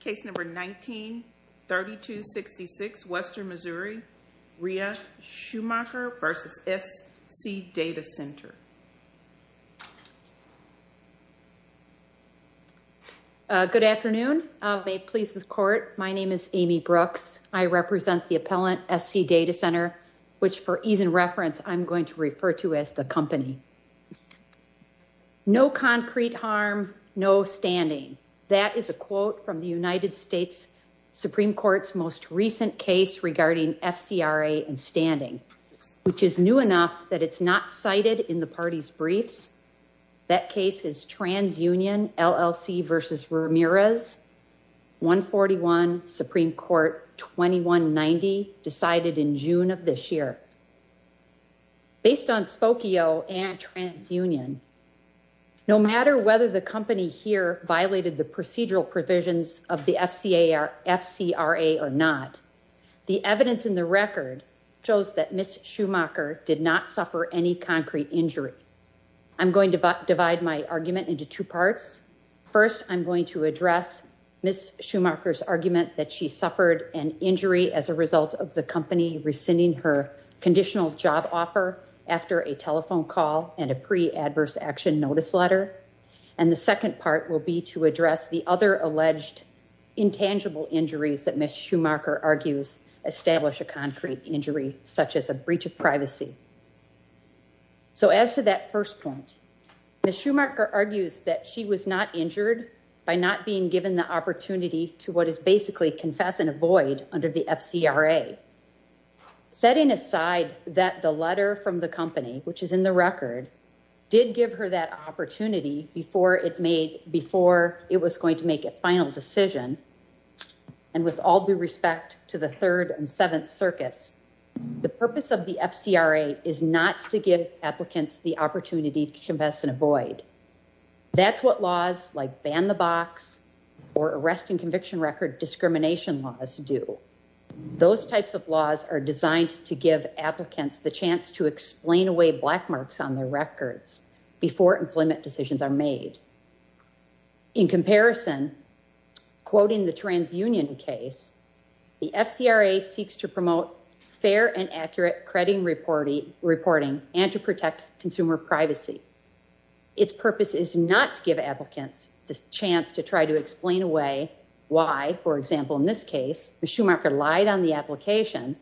Case number 19-3266, Western Missouri, Ria Schumacher v. SC Data Center. Good afternoon. May it please the Court, my name is Amy Brooks. I represent the appellant, SC Data Center, which for ease in reference, I'm going to refer to as the company. No concrete harm, no standing. That is a quote from the United States Supreme Court's most recent case regarding FCRA and standing, which is new enough that it's not cited in the party's briefs. That case is TransUnion LLC v. Ramirez, 141 Supreme Court 2190, decided in June of this year. Based on Spokio and TransUnion, no matter whether the company here violated the procedural provisions of the FCRA or not, the evidence in the record shows that Ms. Schumacher did not suffer any concrete injury. I'm going to divide my argument into two parts. First, I'm going to address Ms. Schumacher's argument that she suffered an injury as a result of the company rescinding her conditional job offer after a telephone call and a pre-adverse action notice letter. And the second part will be to address the other alleged intangible injuries that Ms. Schumacher argues establish a concrete injury, such as a breach of privacy. So as to that first point, Ms. Schumacher argues that she was not injured by not being given the opportunity to what is basically confess and avoid under the FCRA. Setting aside that the letter from the company, which is in the record, did give her that opportunity before it was going to make a final decision, and with all due respect to the Third and Seventh Circuits, the purpose of the FCRA is not to give applicants the opportunity to confess and avoid. That's what laws like Ban the Box or arrest and conviction record discrimination laws do. Those types of laws are designed to give applicants the chance to explain away black marks on their records before employment decisions are made. In comparison, quoting the TransUnion case, the FCRA seeks to promote fair and accurate crediting reporting and to protect consumer privacy. Its purpose is not to give applicants the chance to try to explain away why, for example, in this case, Ms. Schumacher lied on the application,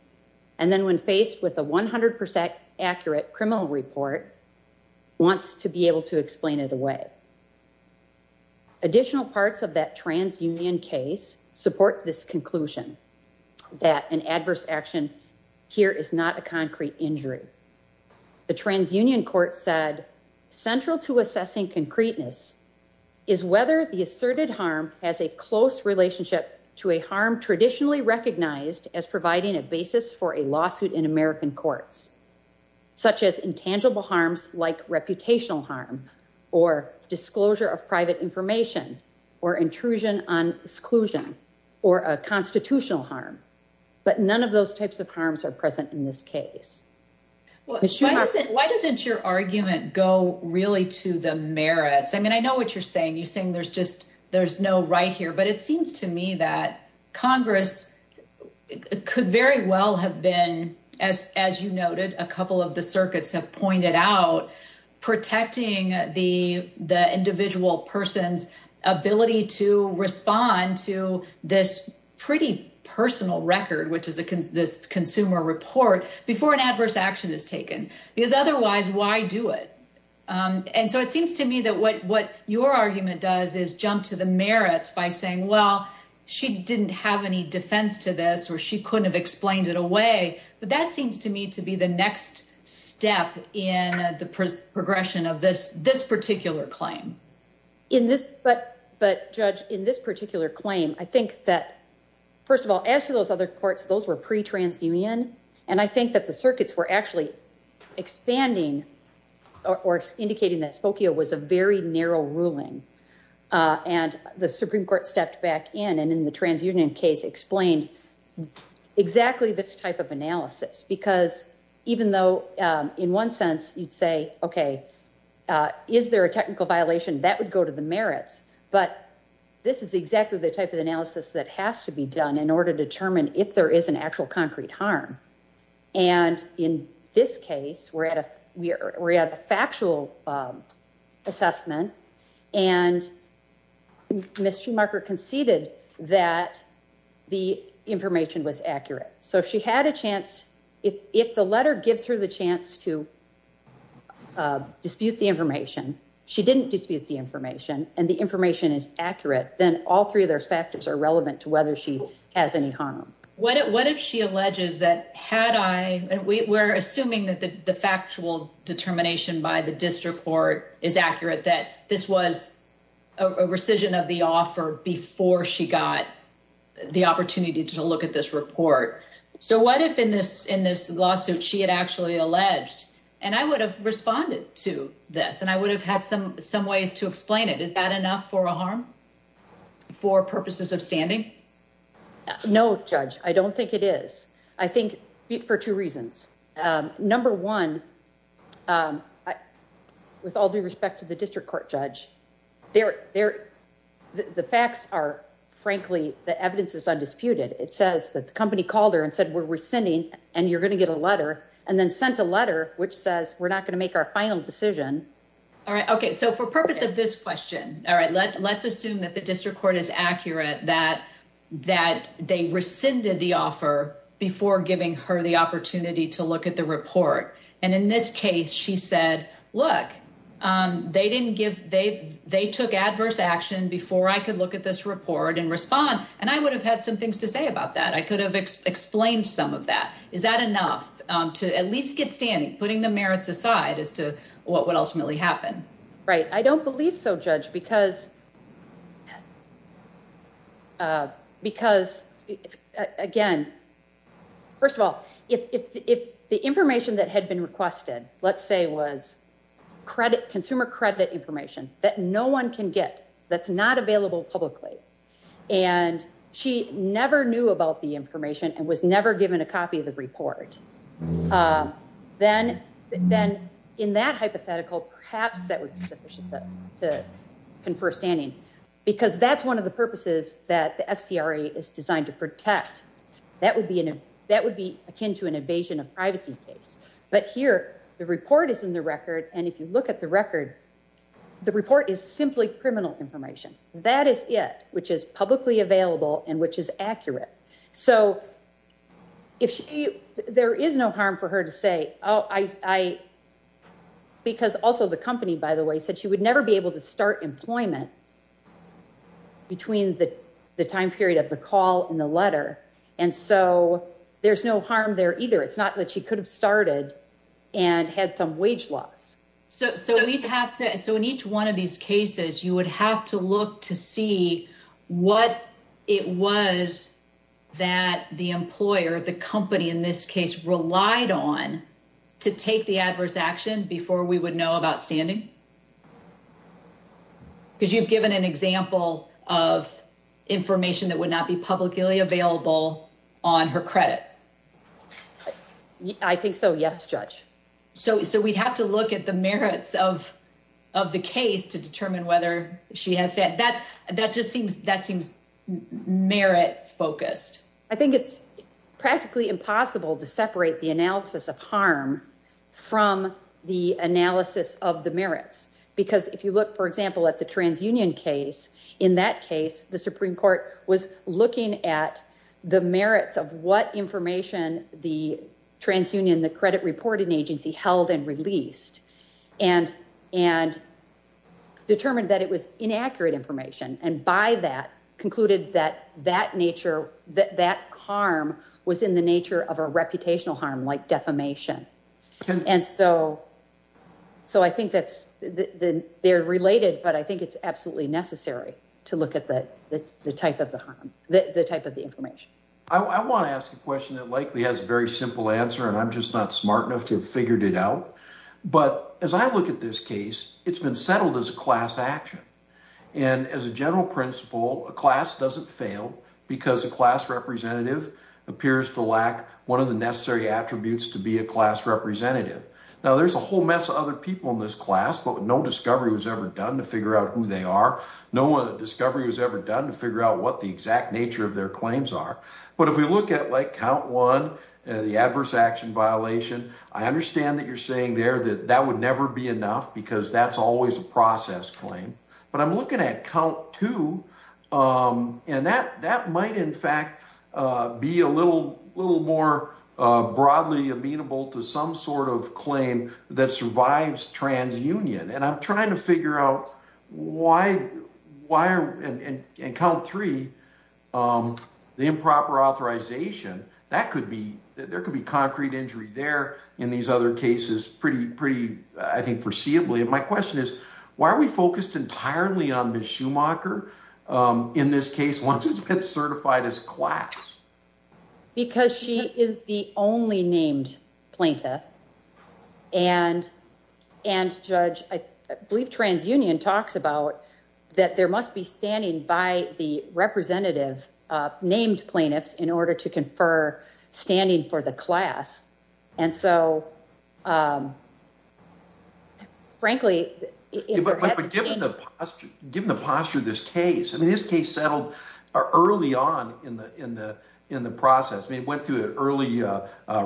and then when faced with a 100% accurate criminal report, wants to be able to explain it away. Additional parts of that TransUnion case support this conclusion that an adverse action here is not a concrete injury. The TransUnion court said, central to assessing concreteness is whether the asserted harm has a close relationship to a harm traditionally recognized as providing a basis for a lawsuit in American courts, such as intangible harms like reputational harm or disclosure of private information or intrusion on exclusion or a constitutional harm, but none of those types of harms are present in this case. Why doesn't your argument go really to the merits? I mean, I know what you're saying. There's no right here, but it seems to me that Congress could very well have been, as you noted, a couple of the circuits have pointed out, protecting the individual person's ability to respond to this pretty personal record, which is this consumer report, before an adverse action is taken. Because otherwise, why do it? And so it seems to me that what your argument does is jump to the merits by saying, well, she didn't have any defense to this or she couldn't have explained it away. But that seems to me to be the next step in the progression of this particular claim. But, Judge, in this particular claim, I think that, first of all, as to those other courts, those were pre-transunion, and I think that the circuits were actually expanding or indicating that Spokio was a very narrow ruling. And the Supreme Court stepped back in and, in the transunion case, explained exactly this type of analysis. Because even though, in one sense, you'd say, okay, is there a technical violation? That would go to the merits. But this is exactly the type of analysis that has to be done in order to determine if there is an actual concrete harm. And in this case, we're at a factual assessment, and Ms. Schumacher conceded that the information was accurate. So if she had a chance, if the letter gives her the chance to dispute the information, she didn't dispute the information, and the information is accurate, then all three of those factors are relevant to whether she has any harm. What if she alleges that had I, and we're assuming that the factual determination by the district court is accurate, that this was a rescission of the offer before she got the opportunity to look at this report. So what if, in this lawsuit, she had actually alleged, and I would have responded to this, and I would have had some ways to explain it. Is that enough for a harm for purposes of standing? No, judge, I don't think it is. I think for two reasons. Number one, with all due respect to the district court judge, the facts are, frankly, the evidence is undisputed. It says that the company called her and said, we're rescinding, and you're going to get a letter, and then sent a letter, which says we're not going to make our final decision. All right. Okay. So for purpose of this question, all right, let's assume that the district court is accurate, that they rescinded the offer before giving her the opportunity to look at the report. And in this case, she said, look, they took adverse action before I could look at this report and respond, and I would have had some things to say about that. I could have explained some of that. Is that enough to at least get standing, putting the merits aside as to what would ultimately happen? Right. I don't believe so, judge, because, again, first of all, if the information that had been requested, let's say, was consumer credit information that no one can get, that's not available publicly, and she never knew about the information and was never given a copy of the report, then in that hypothetical, perhaps that would be sufficient to confer standing, because that's one of the purposes that the FCRA is designed to protect. That would be akin to an invasion of privacy case. But here the report is in the record, and if you look at the record, the report is simply criminal information. That is it, which is publicly available and which is accurate. So there is no harm for her to say, because also the company, by the way, said she would never be able to start employment between the time period of the call and the letter. And so there's no harm there either. It's not that she could have started and had some wage loss. So in each one of these cases, you would have to look to see what it was that the employer, the company in this case, relied on to take the adverse action before we would know about standing? Because you've given an example of information that would not be publicly available on her credit. I think so, yes, judge. So we'd have to look at the merits of the case to determine whether she has that. That just seems merit focused. I think it's practically impossible to separate the analysis of harm from the analysis of the merits. Because if you look, for example, at the transunion case, in that case, the Supreme Court was looking at the merits of what information the transunion, the credit reporting agency held and released and determined that it was inaccurate information. And by that concluded that that nature, that harm was in the nature of a reputational harm like defamation. And so. So I think that's they're related, but I think it's absolutely necessary to look at the type of the type of the information. I want to ask a question that likely has a very simple answer, and I'm just not smart enough to have figured it out. But as I look at this case, it's been settled as a class action. And as a general principle, a class doesn't fail because a class representative appears to lack one of the necessary attributes to be a class representative. Now, there's a whole mess of other people in this class, but no discovery was ever done to figure out who they are. No one discovery was ever done to figure out what the exact nature of their claims are. But if we look at like count one, the adverse action violation, I understand that you're saying there that that would never be enough because that's always a process claim. But I'm looking at count two and that that might, in fact, be a little little more broadly amenable to some sort of claim that survives trans union. And I'm trying to figure out why. Why? And count three, the improper authorization. That could be there could be concrete injury there in these other cases. I think foreseeably. And my question is, why are we focused entirely on the Schumacher in this case once it's been certified as class? Because she is the only named plaintiff. And and judge, I believe, trans union talks about that there must be standing by the representative named plaintiffs in order to confer standing for the class. And so, frankly, given the given the posture of this case, I mean, this case settled early on in the in the in the process. We went to an early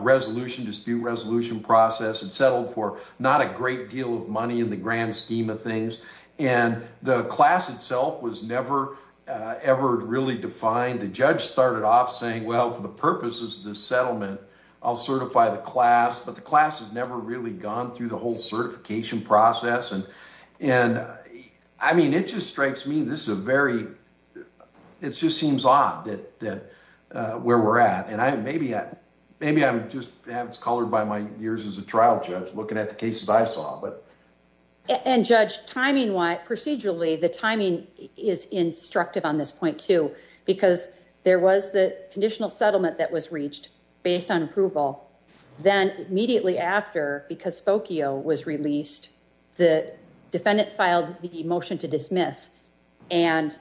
resolution dispute resolution process and settled for not a great deal of money in the grand scheme of things. And the class itself was never, ever really defined. The judge started off saying, well, for the purposes of this settlement, I'll certify the class. But the class has never really gone through the whole certification process. And and I mean, it just strikes me. This is a very it just seems odd that that where we're at. And I maybe maybe I'm just colored by my years as a trial judge looking at the cases I saw. And judge timing why procedurally the timing is instructive on this point, too, because there was the conditional settlement that was reached based on approval. Then immediately after, because Spokio was released, the defendant filed the motion to dismiss and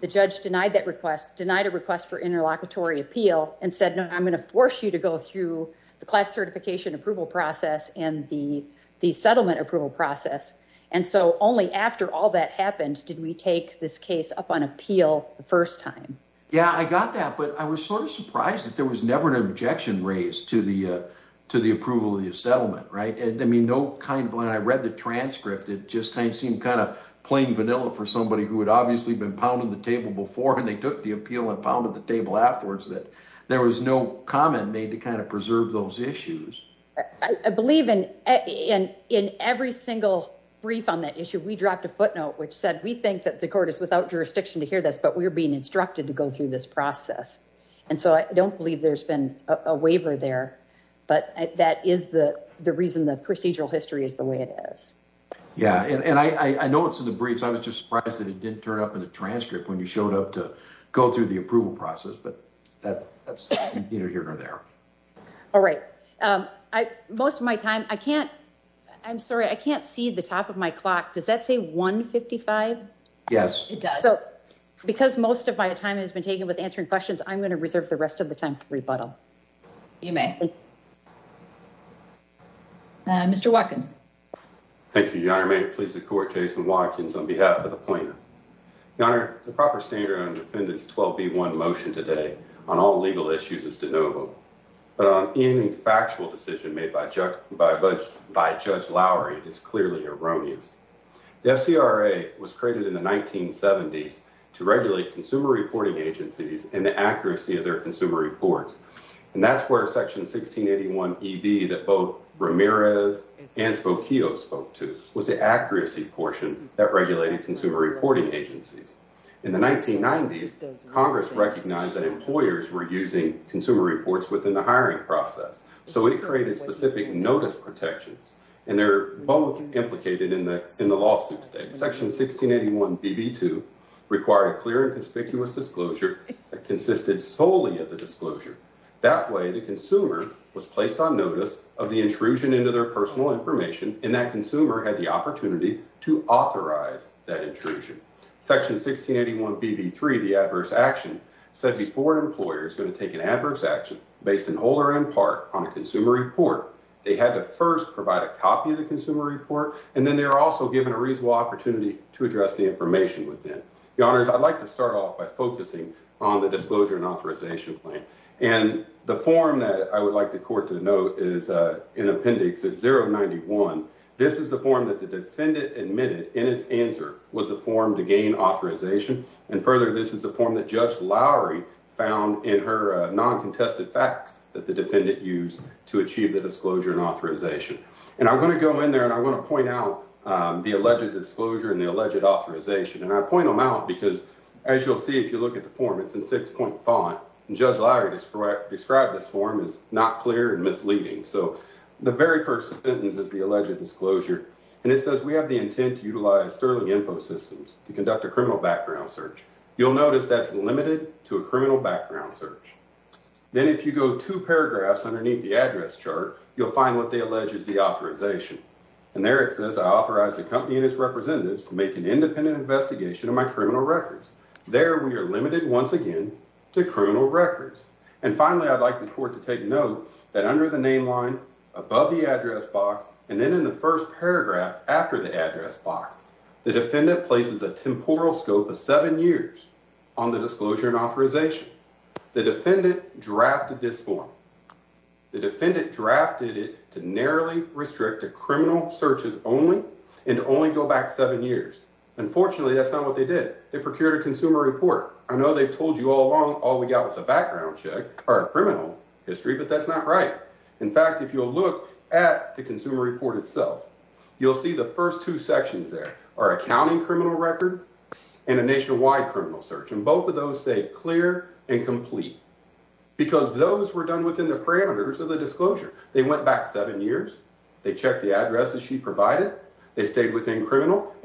the judge denied that request denied a request for interlocutory appeal and said, no, I'm going to force you to go through the class certification approval process. And the the settlement approval process. And so only after all that happened, did we take this case up on appeal the first time? Yeah, I got that. But I was sort of surprised that there was never an objection raised to the to the approval of the settlement. Right. And I mean, no kind of when I read the transcript, it just kind of seemed kind of plain vanilla for somebody who had obviously been pounding the table before. And they took the appeal and pounded the table afterwards that there was no comment made to kind of preserve those issues. I believe in in in every single brief on that issue, we dropped a footnote which said we think that the court is without jurisdiction to hear this. But we're being instructed to go through this process. And so I don't believe there's been a waiver there. But that is the the reason the procedural history is the way it is. Yeah. And I know it's in the briefs. I was just surprised that it didn't turn up in the transcript when you showed up to go through the approval process. But that's either here or there. All right. I most of my time I can't I'm sorry, I can't see the top of my clock. Does that say one fifty five? Yes, it does. So because most of my time has been taken with answering questions, I'm going to reserve the rest of the time for rebuttal. You may. Mr. Watkins. Thank you. Jason Watkins, on behalf of the plaintiff, the proper standard on defendants. One motion today on all legal issues is de novo. Any factual decision made by by by Judge Lowry is clearly erroneous. The F.C.R.A. was created in the 1970s to regulate consumer reporting agencies and the accuracy of their consumer reports. And that's where Section 1681 E.B. that both Ramirez and Spokio spoke to was the accuracy portion that regulated consumer reporting agencies. In the 1990s, Congress recognized that employers were using consumer reports within the hiring process. So we created specific notice protections and they're both implicated in the in the lawsuit. Section 1681 B.B. to require a clear and conspicuous disclosure that consisted solely of the disclosure. That way, the consumer was placed on notice of the intrusion into their personal information. And that consumer had the opportunity to authorize that intrusion. Section 1681 B.B. three, the adverse action said before an employer is going to take an adverse action based in whole or in part on a consumer report. They had to first provide a copy of the consumer report. And then they were also given a reasonable opportunity to address the information within the honors. I'd like to start off by focusing on the disclosure and authorization plan. And the form that I would like the court to know is in appendix zero ninety one. This is the form that the defendant admitted in its answer was a form to gain authorization. And further, this is the form that Judge Lowry found in her non-contested facts that the defendant used to achieve the disclosure and authorization. And I'm going to go in there and I want to point out the alleged disclosure and the alleged authorization. And I point them out because, as you'll see, if you look at the form, it's in six point font. And Judge Lowry described this form is not clear and misleading. So the very first sentence is the alleged disclosure. And it says we have the intent to utilize sterling info systems to conduct a criminal background search. You'll notice that's limited to a criminal background search. Then if you go to paragraphs underneath the address chart, you'll find what they allege is the authorization. And there it says I authorize the company and its representatives to make an independent investigation of my criminal records. There we are limited once again to criminal records. And finally, I'd like the court to take note that under the name line, above the address box, and then in the first paragraph after the address box, the defendant places a temporal scope of seven years on the disclosure and authorization. The defendant drafted this form. The defendant drafted it to narrowly restrict to criminal searches only and only go back seven years. Unfortunately, that's not what they did. They procured a consumer report. I know they've told you all along all we got was a background check or a criminal history, but that's not right. In fact, if you'll look at the consumer report itself, you'll see the first two sections there are accounting criminal record and a nationwide criminal search. And both of those say clear and complete because those were done within the parameters of the disclosure. They went back seven years. They checked the address that she provided. And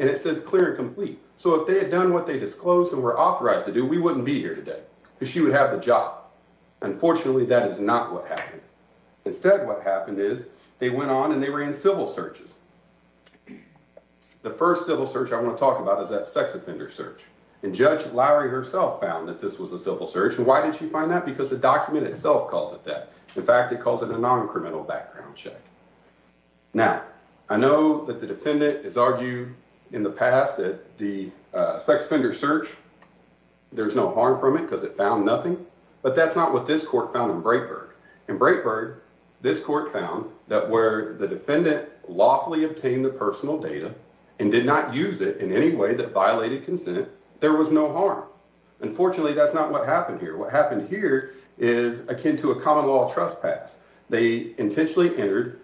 it says clear and complete. So if they had done what they disclosed and were authorized to do, we wouldn't be here today because she would have the job. Unfortunately, that is not what happened. Instead, what happened is they went on and they were in civil searches. The first civil search I want to talk about is that sex offender search. And Judge Lowry herself found that this was a civil search. And why did she find that? Because the document itself calls it that. In fact, it calls it a non-criminal background check. Now, I know that the defendant has argued in the past that the sex offender search, there's no harm from it because it found nothing. But that's not what this court found in Breitbart. In Breitbart, this court found that where the defendant lawfully obtained the personal data and did not use it in any way that violated consent, there was no harm. Unfortunately, that's not what happened here. What happened here is akin to a common law trespass. They intentionally entered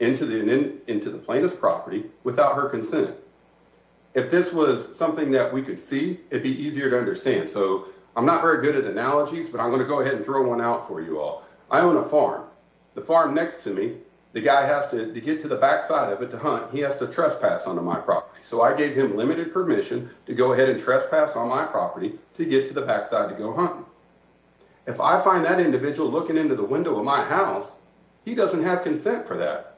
into the plaintiff's property without her consent. If this was something that we could see, it'd be easier to understand. So I'm not very good at analogies, but I'm going to go ahead and throw one out for you all. I own a farm. The farm next to me, the guy has to get to the backside of it to hunt. He has to trespass onto my property. So I gave him limited permission to go ahead and trespass on my property to get to the backside to go hunting. If I find that individual looking into the window of my house, he doesn't have consent for that.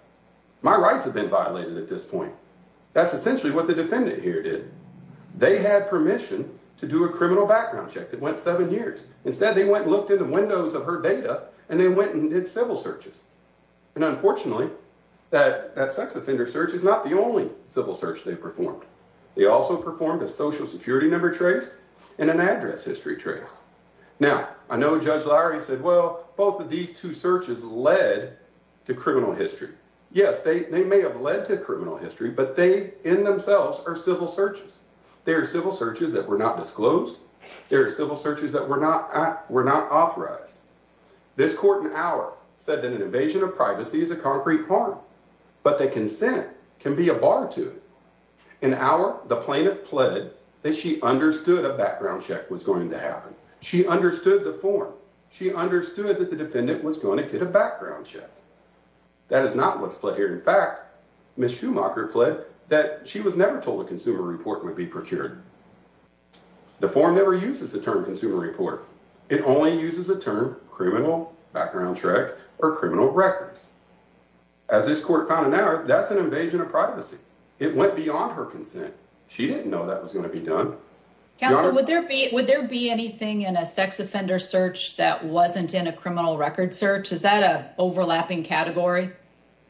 My rights have been violated at this point. That's essentially what the defendant here did. They had permission to do a criminal background check that went seven years. Instead, they went and looked in the windows of her data, and they went and did civil searches. And unfortunately, that sex offender search is not the only civil search they performed. They also performed a Social Security number trace and an address history trace. Now, I know Judge Lowry said, well, both of these two searches led to criminal history. Yes, they may have led to criminal history, but they in themselves are civil searches. They are civil searches that were not disclosed. They are civil searches that were not authorized. This court in Auer said that an invasion of privacy is a concrete harm, but that consent can be a bar to it. In Auer, the plaintiff pled that she understood a background check was going to happen. She understood the form. She understood that the defendant was going to get a background check. That is not what's pled here. In fact, Ms. Schumacher pled that she was never told a consumer report would be procured. The form never uses the term consumer report. It only uses the term criminal background check or criminal records. As this court found in Auer, that's an invasion of privacy. It went beyond her consent. She didn't know that was going to be done. Counsel, would there be anything in a sex offender search that wasn't in a criminal record search? Is that an overlapping category?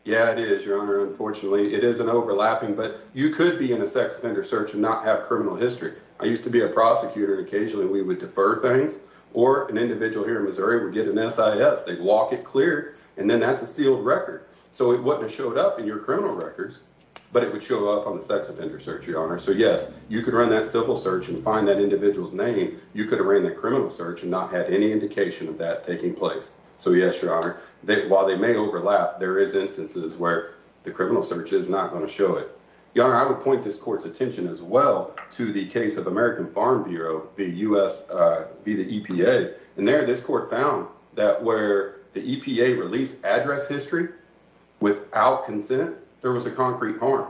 Yeah, it is, Your Honor. Unfortunately, it is an overlapping, but you could be in a sex offender search and not have criminal history. I used to be a prosecutor. Occasionally, we would defer things, or an individual here in Missouri would get an SIS. They'd walk it clear, and then that's a sealed record. It wouldn't have showed up in your criminal records, but it would show up on the sex offender search, Your Honor. Yes, you could run that civil search and find that individual's name. You could have ran the criminal search and not had any indication of that taking place. Yes, Your Honor. While they may overlap, there is instances where the criminal search is not going to show it. Your Honor, I would point this court's attention as well to the case of American Farm Bureau v. the EPA. And there, this court found that where the EPA released address history without consent, there was a concrete harm.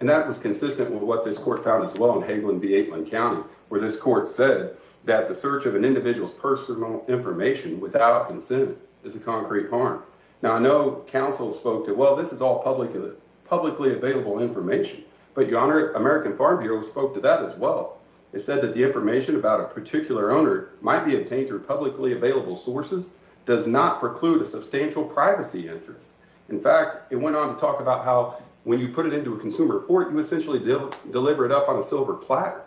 And that was consistent with what this court found as well in Hagelin v. Aitlin County, where this court said that the search of an individual's personal information without consent is a concrete harm. Now, I know counsel spoke to, well, this is all publicly available information. But, Your Honor, American Farm Bureau spoke to that as well. It said that the information about a particular owner might be obtained through publicly available sources does not preclude a substantial privacy interest. In fact, it went on to talk about how when you put it into a consumer report, you essentially deliver it up on a silver platter.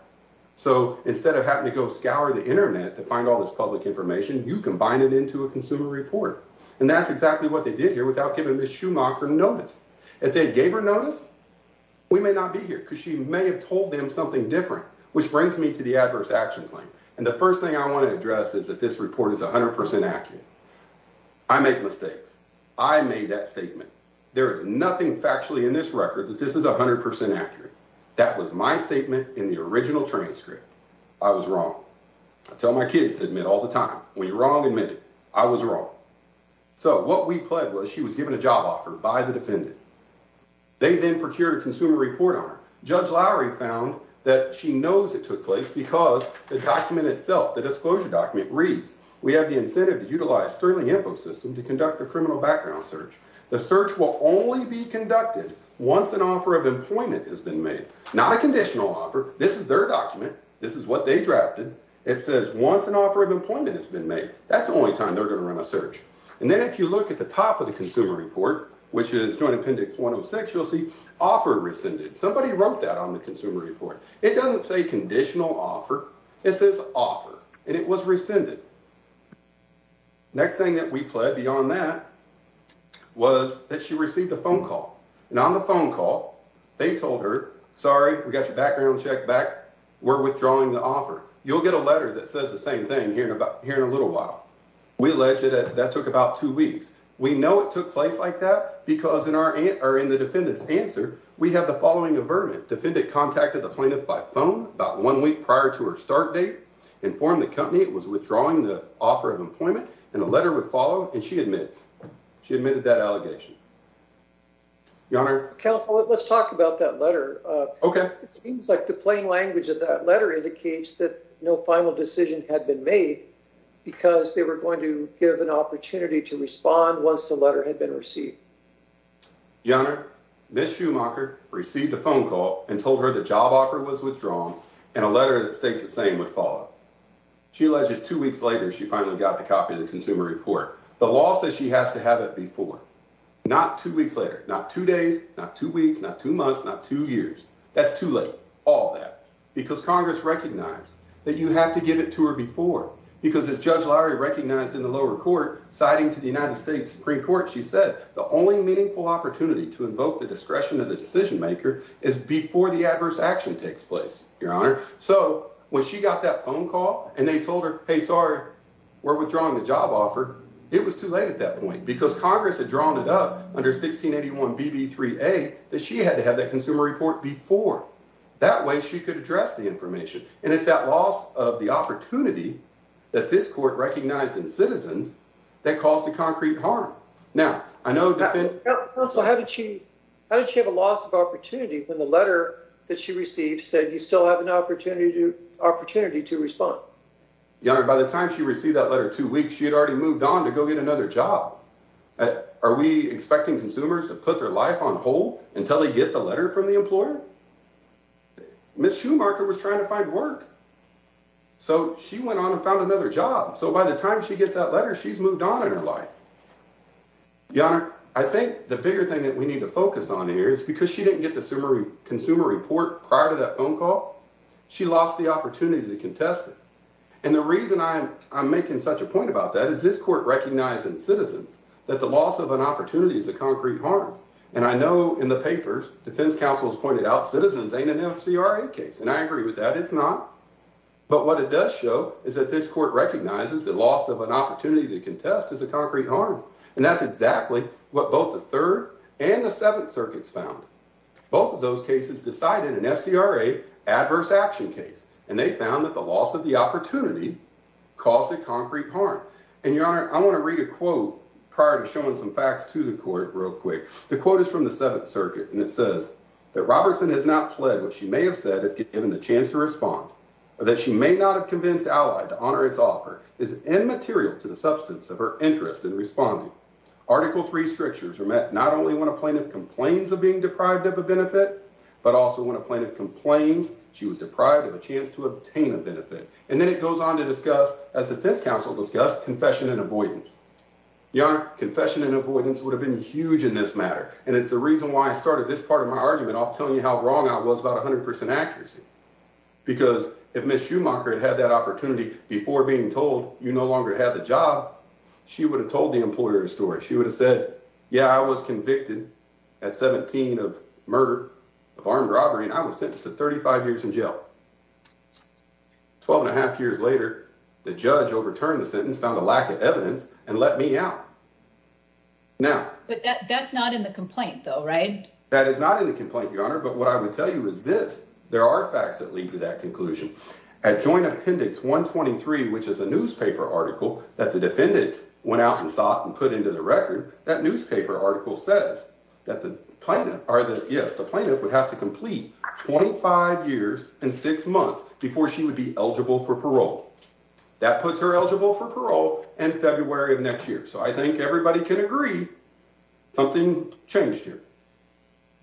So instead of having to go scour the Internet to find all this public information, you combine it into a consumer report. And that's exactly what they did here without giving Ms. Schumacher notice. If they gave her notice, we may not be here because she may have told them something different, which brings me to the adverse action claim. And the first thing I want to address is that this report is 100 percent accurate. I make mistakes. I made that statement. There is nothing factually in this record that this is 100 percent accurate. That was my statement in the original transcript. I was wrong. I tell my kids to admit all the time. When you're wrong, admit it. I was wrong. So what we pled was she was given a job offer by the defendant. They then procured a consumer report on her. Judge Lowry found that she knows it took place because the document itself, the disclosure document, reads, We have the incentive to utilize Sterling InfoSystem to conduct a criminal background search. The search will only be conducted once an offer of employment has been made. Not a conditional offer. This is their document. This is what they drafted. It says once an offer of employment has been made. That's the only time they're going to run a search. And then if you look at the top of the consumer report, which is Joint Appendix 106, you'll see offer rescinded. Somebody wrote that on the consumer report. It doesn't say conditional offer. It says offer, and it was rescinded. Next thing that we pled beyond that was that she received a phone call. And on the phone call, they told her, Sorry, we got your background check back. We're withdrawing the offer. You'll get a letter that says the same thing here in a little while. We allege that that took about two weeks. We know it took place like that because in the defendant's answer, we have the following avertment. Defendant contacted the plaintiff by phone about one week prior to her start date, informed the company it was withdrawing the offer of employment. And the letter would follow. And she admits she admitted that allegation. It seems like the plain language of that letter indicates that no final decision had been made because they were going to give an opportunity to respond once the letter had been received. Your Honor, Ms. Schumacher received a phone call and told her the job offer was withdrawn and a letter that states the same would follow. She alleges two weeks later, she finally got the copy of the consumer report. The law says she has to have it before, not two weeks later, not two days, not two weeks, not two months, not two years. That's too late. All that because Congress recognized that you have to give it to her before. Because as Judge Lowry recognized in the lower court, citing to the United States Supreme Court, she said, the only meaningful opportunity to invoke the discretion of the decision maker is before the adverse action takes place. Your Honor. So when she got that phone call and they told her, hey, sorry, we're withdrawing the job offer. It was too late at that point because Congress had drawn it up under 1681 BB3A that she had to have that consumer report before. That way she could address the information. And it's that loss of the opportunity that this court recognized in citizens that caused the concrete harm. Counsel, how did she have a loss of opportunity when the letter that she received said you still have an opportunity to respond? Your Honor, by the time she received that letter two weeks, she had already moved on to go get another job. Are we expecting consumers to put their life on hold until they get the letter from the employer? Ms. Schumacher was trying to find work. So she went on and found another job. So by the time she gets that letter, she's moved on in her life. Your Honor, I think the bigger thing that we need to focus on here is because she didn't get the consumer consumer report prior to that phone call. She lost the opportunity to contest it. And the reason I'm I'm making such a point about that is this court recognizing citizens that the loss of an opportunity is a concrete harm. And I know in the papers, defense counsel has pointed out citizens ain't an MCRA case. And I agree with that. It's not. But what it does show is that this court recognizes the loss of an opportunity to contest is a concrete harm. And that's exactly what both the third and the Seventh Circuit's found. Both of those cases decided an MCRA adverse action case, and they found that the loss of the opportunity caused a concrete harm. And, Your Honor, I want to read a quote prior to showing some facts to the court real quick. The quote is from the Seventh Circuit, and it says that Robertson has not pled what she may have said if given the chance to respond, that she may not have convinced Allied to honor its offer is immaterial to the substance of her interest in responding. Article three strictures are met not only when a plaintiff complains of being deprived of a benefit, but also when a plaintiff complains she was deprived of a chance to obtain a benefit. And then it goes on to discuss, as defense counsel discussed, confession and avoidance. Your confession and avoidance would have been huge in this matter. And it's the reason why I started this part of my argument. I'll tell you how wrong I was about 100 percent accuracy. Because if Miss Schumacher had had that opportunity before being told, you no longer have a job. She would have told the employer story. She would have said, yeah, I was convicted at 17 of murder of armed robbery. And I was sentenced to 35 years in jail. Twelve and a half years later, the judge overturned the sentence, found a lack of evidence and let me out. Now, that's not in the complaint, though, right? That is not in the complaint, your honor. But what I would tell you is this. There are facts that lead to that conclusion. I joined Appendix 123, which is a newspaper article that the defendant went out and sought and put into the record. That newspaper article says that the plaintiff or the plaintiff would have to complete 25 years and six months before she would be eligible for parole. That puts her eligible for parole in February of next year. So I think everybody can agree something changed here.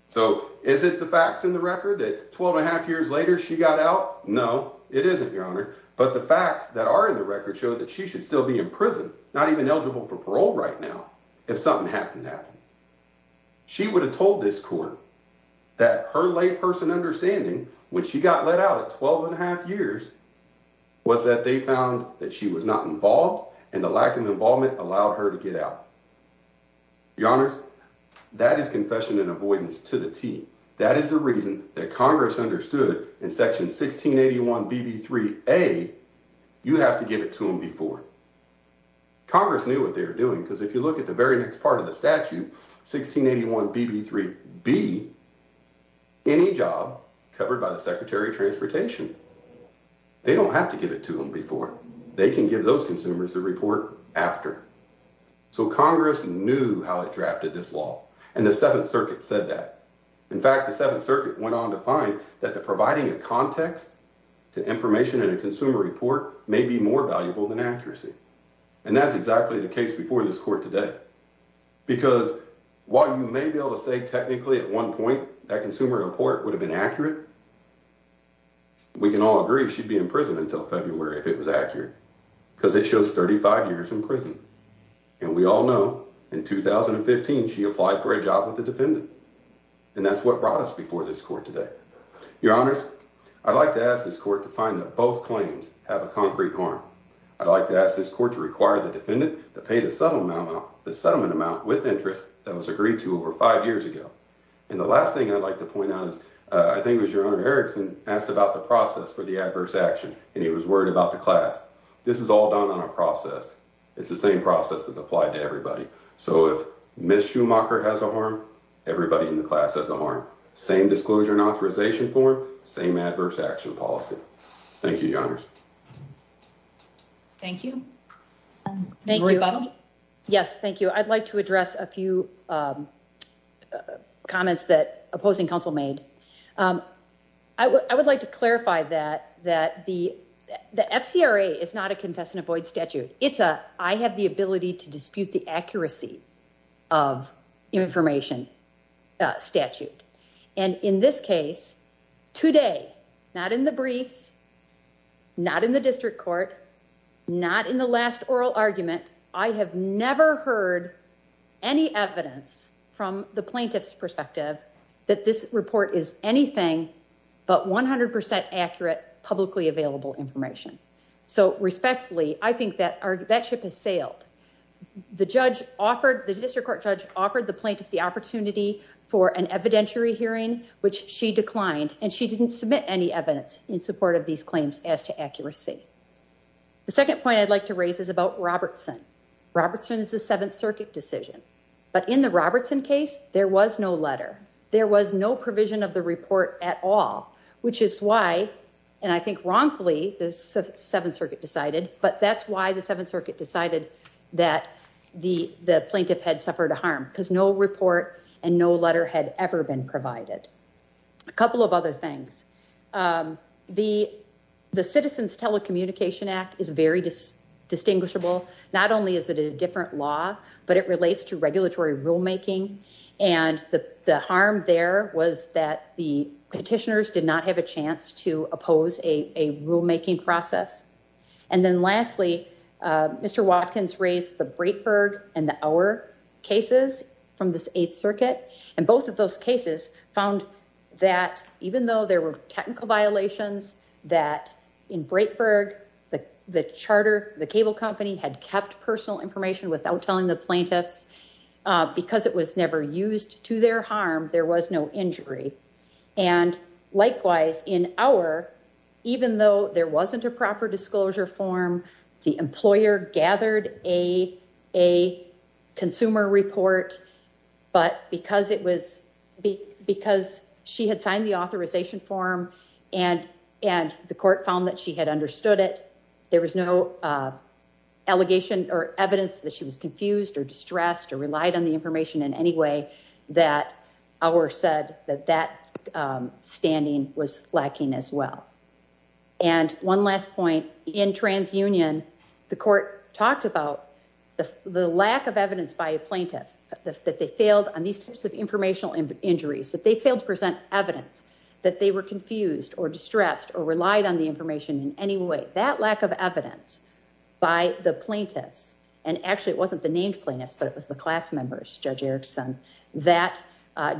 So is it the facts in the record that twelve and a half years later she got out? No, it isn't, your honor. But the facts that are in the record show that she should still be in prison, not even eligible for parole right now. If something happened to happen. She would have told this court that her layperson understanding when she got let out at twelve and a half years was that they found that she was not involved and the lack of involvement allowed her to get out. Your honors, that is confession in avoidance to the team. That is the reason that Congress understood in Section 1681. B.B. three. A. You have to give it to him before. Congress knew what they were doing, because if you look at the very next part of the statute, 1681 B.B. three B. Any job covered by the secretary of transportation. They don't have to give it to them before they can give those consumers the report after. So Congress knew how it drafted this law. And the Seventh Circuit said that. In fact, the Seventh Circuit went on to find that the providing a context to information in a consumer report may be more valuable than accuracy. And that's exactly the case before this court today. Because while you may be able to say technically at one point that consumer report would have been accurate. We can all agree she'd be in prison until February if it was accurate because it shows thirty five years in prison. And we all know in 2015, she applied for a job with the defendant. And that's what brought us before this court today. Your honors. I'd like to ask this court to find that both claims have a concrete harm. I'd like to ask this court to require the defendant to pay the settlement amount, the settlement amount with interest that was agreed to over five years ago. And the last thing I'd like to point out is I think it was your honor. Erickson asked about the process for the adverse action and he was worried about the class. This is all done on a process. It's the same process that's applied to everybody. So if Miss Schumacher has a harm, everybody in the class has a harm. Same disclosure and authorization form. Same adverse action policy. Thank you. Your honors. Thank you. Thank you. Yes. Thank you. I'd like to address a few comments that opposing counsel made. I would like to clarify that, that the the FCRA is not a confess and avoid statute. It's a I have the ability to dispute the accuracy of information statute. And in this case today, not in the briefs, not in the district court, not in the last oral argument. I have never heard any evidence from the plaintiff's perspective that this report is anything but 100 percent accurate publicly available information. So respectfully, I think that that ship has sailed. The judge offered the district court judge offered the plaintiff the opportunity for an evidentiary hearing, which she declined. And she didn't submit any evidence in support of these claims as to accuracy. The second point I'd like to raise is about Robertson. Robertson is the Seventh Circuit decision. But in the Robertson case, there was no letter. There was no provision of the report at all, which is why. And I think wrongfully, the Seventh Circuit decided, but that's why the Seventh Circuit decided that the the plaintiff had suffered a harm because no report and no letter had ever been provided. A couple of other things. The the Citizens Telecommunication Act is very distinguishable. Not only is it a different law, but it relates to regulatory rulemaking. And the harm there was that the petitioners did not have a chance to oppose a rulemaking process. And then lastly, Mr. Watkins raised the Breitberg and our cases from the Eighth Circuit. And both of those cases found that even though there were technical violations that in Breitberg, the the charter, the cable company had kept personal information without telling the plaintiffs because it was never used to their harm. There was no injury. And likewise, in our, even though there wasn't a proper disclosure form, the employer gathered a a consumer report. But because it was because she had signed the authorization form and and the court found that she had understood it, there was no allegation or evidence that she was confused or distressed or relied on the information in any way that our said that that standing was lacking as well. And one last point in TransUnion, the court talked about the lack of evidence by a plaintiff that they failed on these types of informational injuries, that they failed to present evidence that they were confused or distressed or relied on the information in any way. But that lack of evidence by the plaintiffs, and actually it wasn't the named plaintiffs, but it was the class members, Judge Erickson, that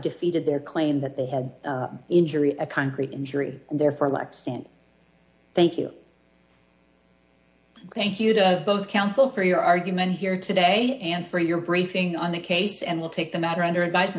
defeated their claim that they had injury, a concrete injury, and therefore lacked standing. Thank you. Thank you to both counsel for your argument here today and for your briefing on the case and we'll take the matter under advisement.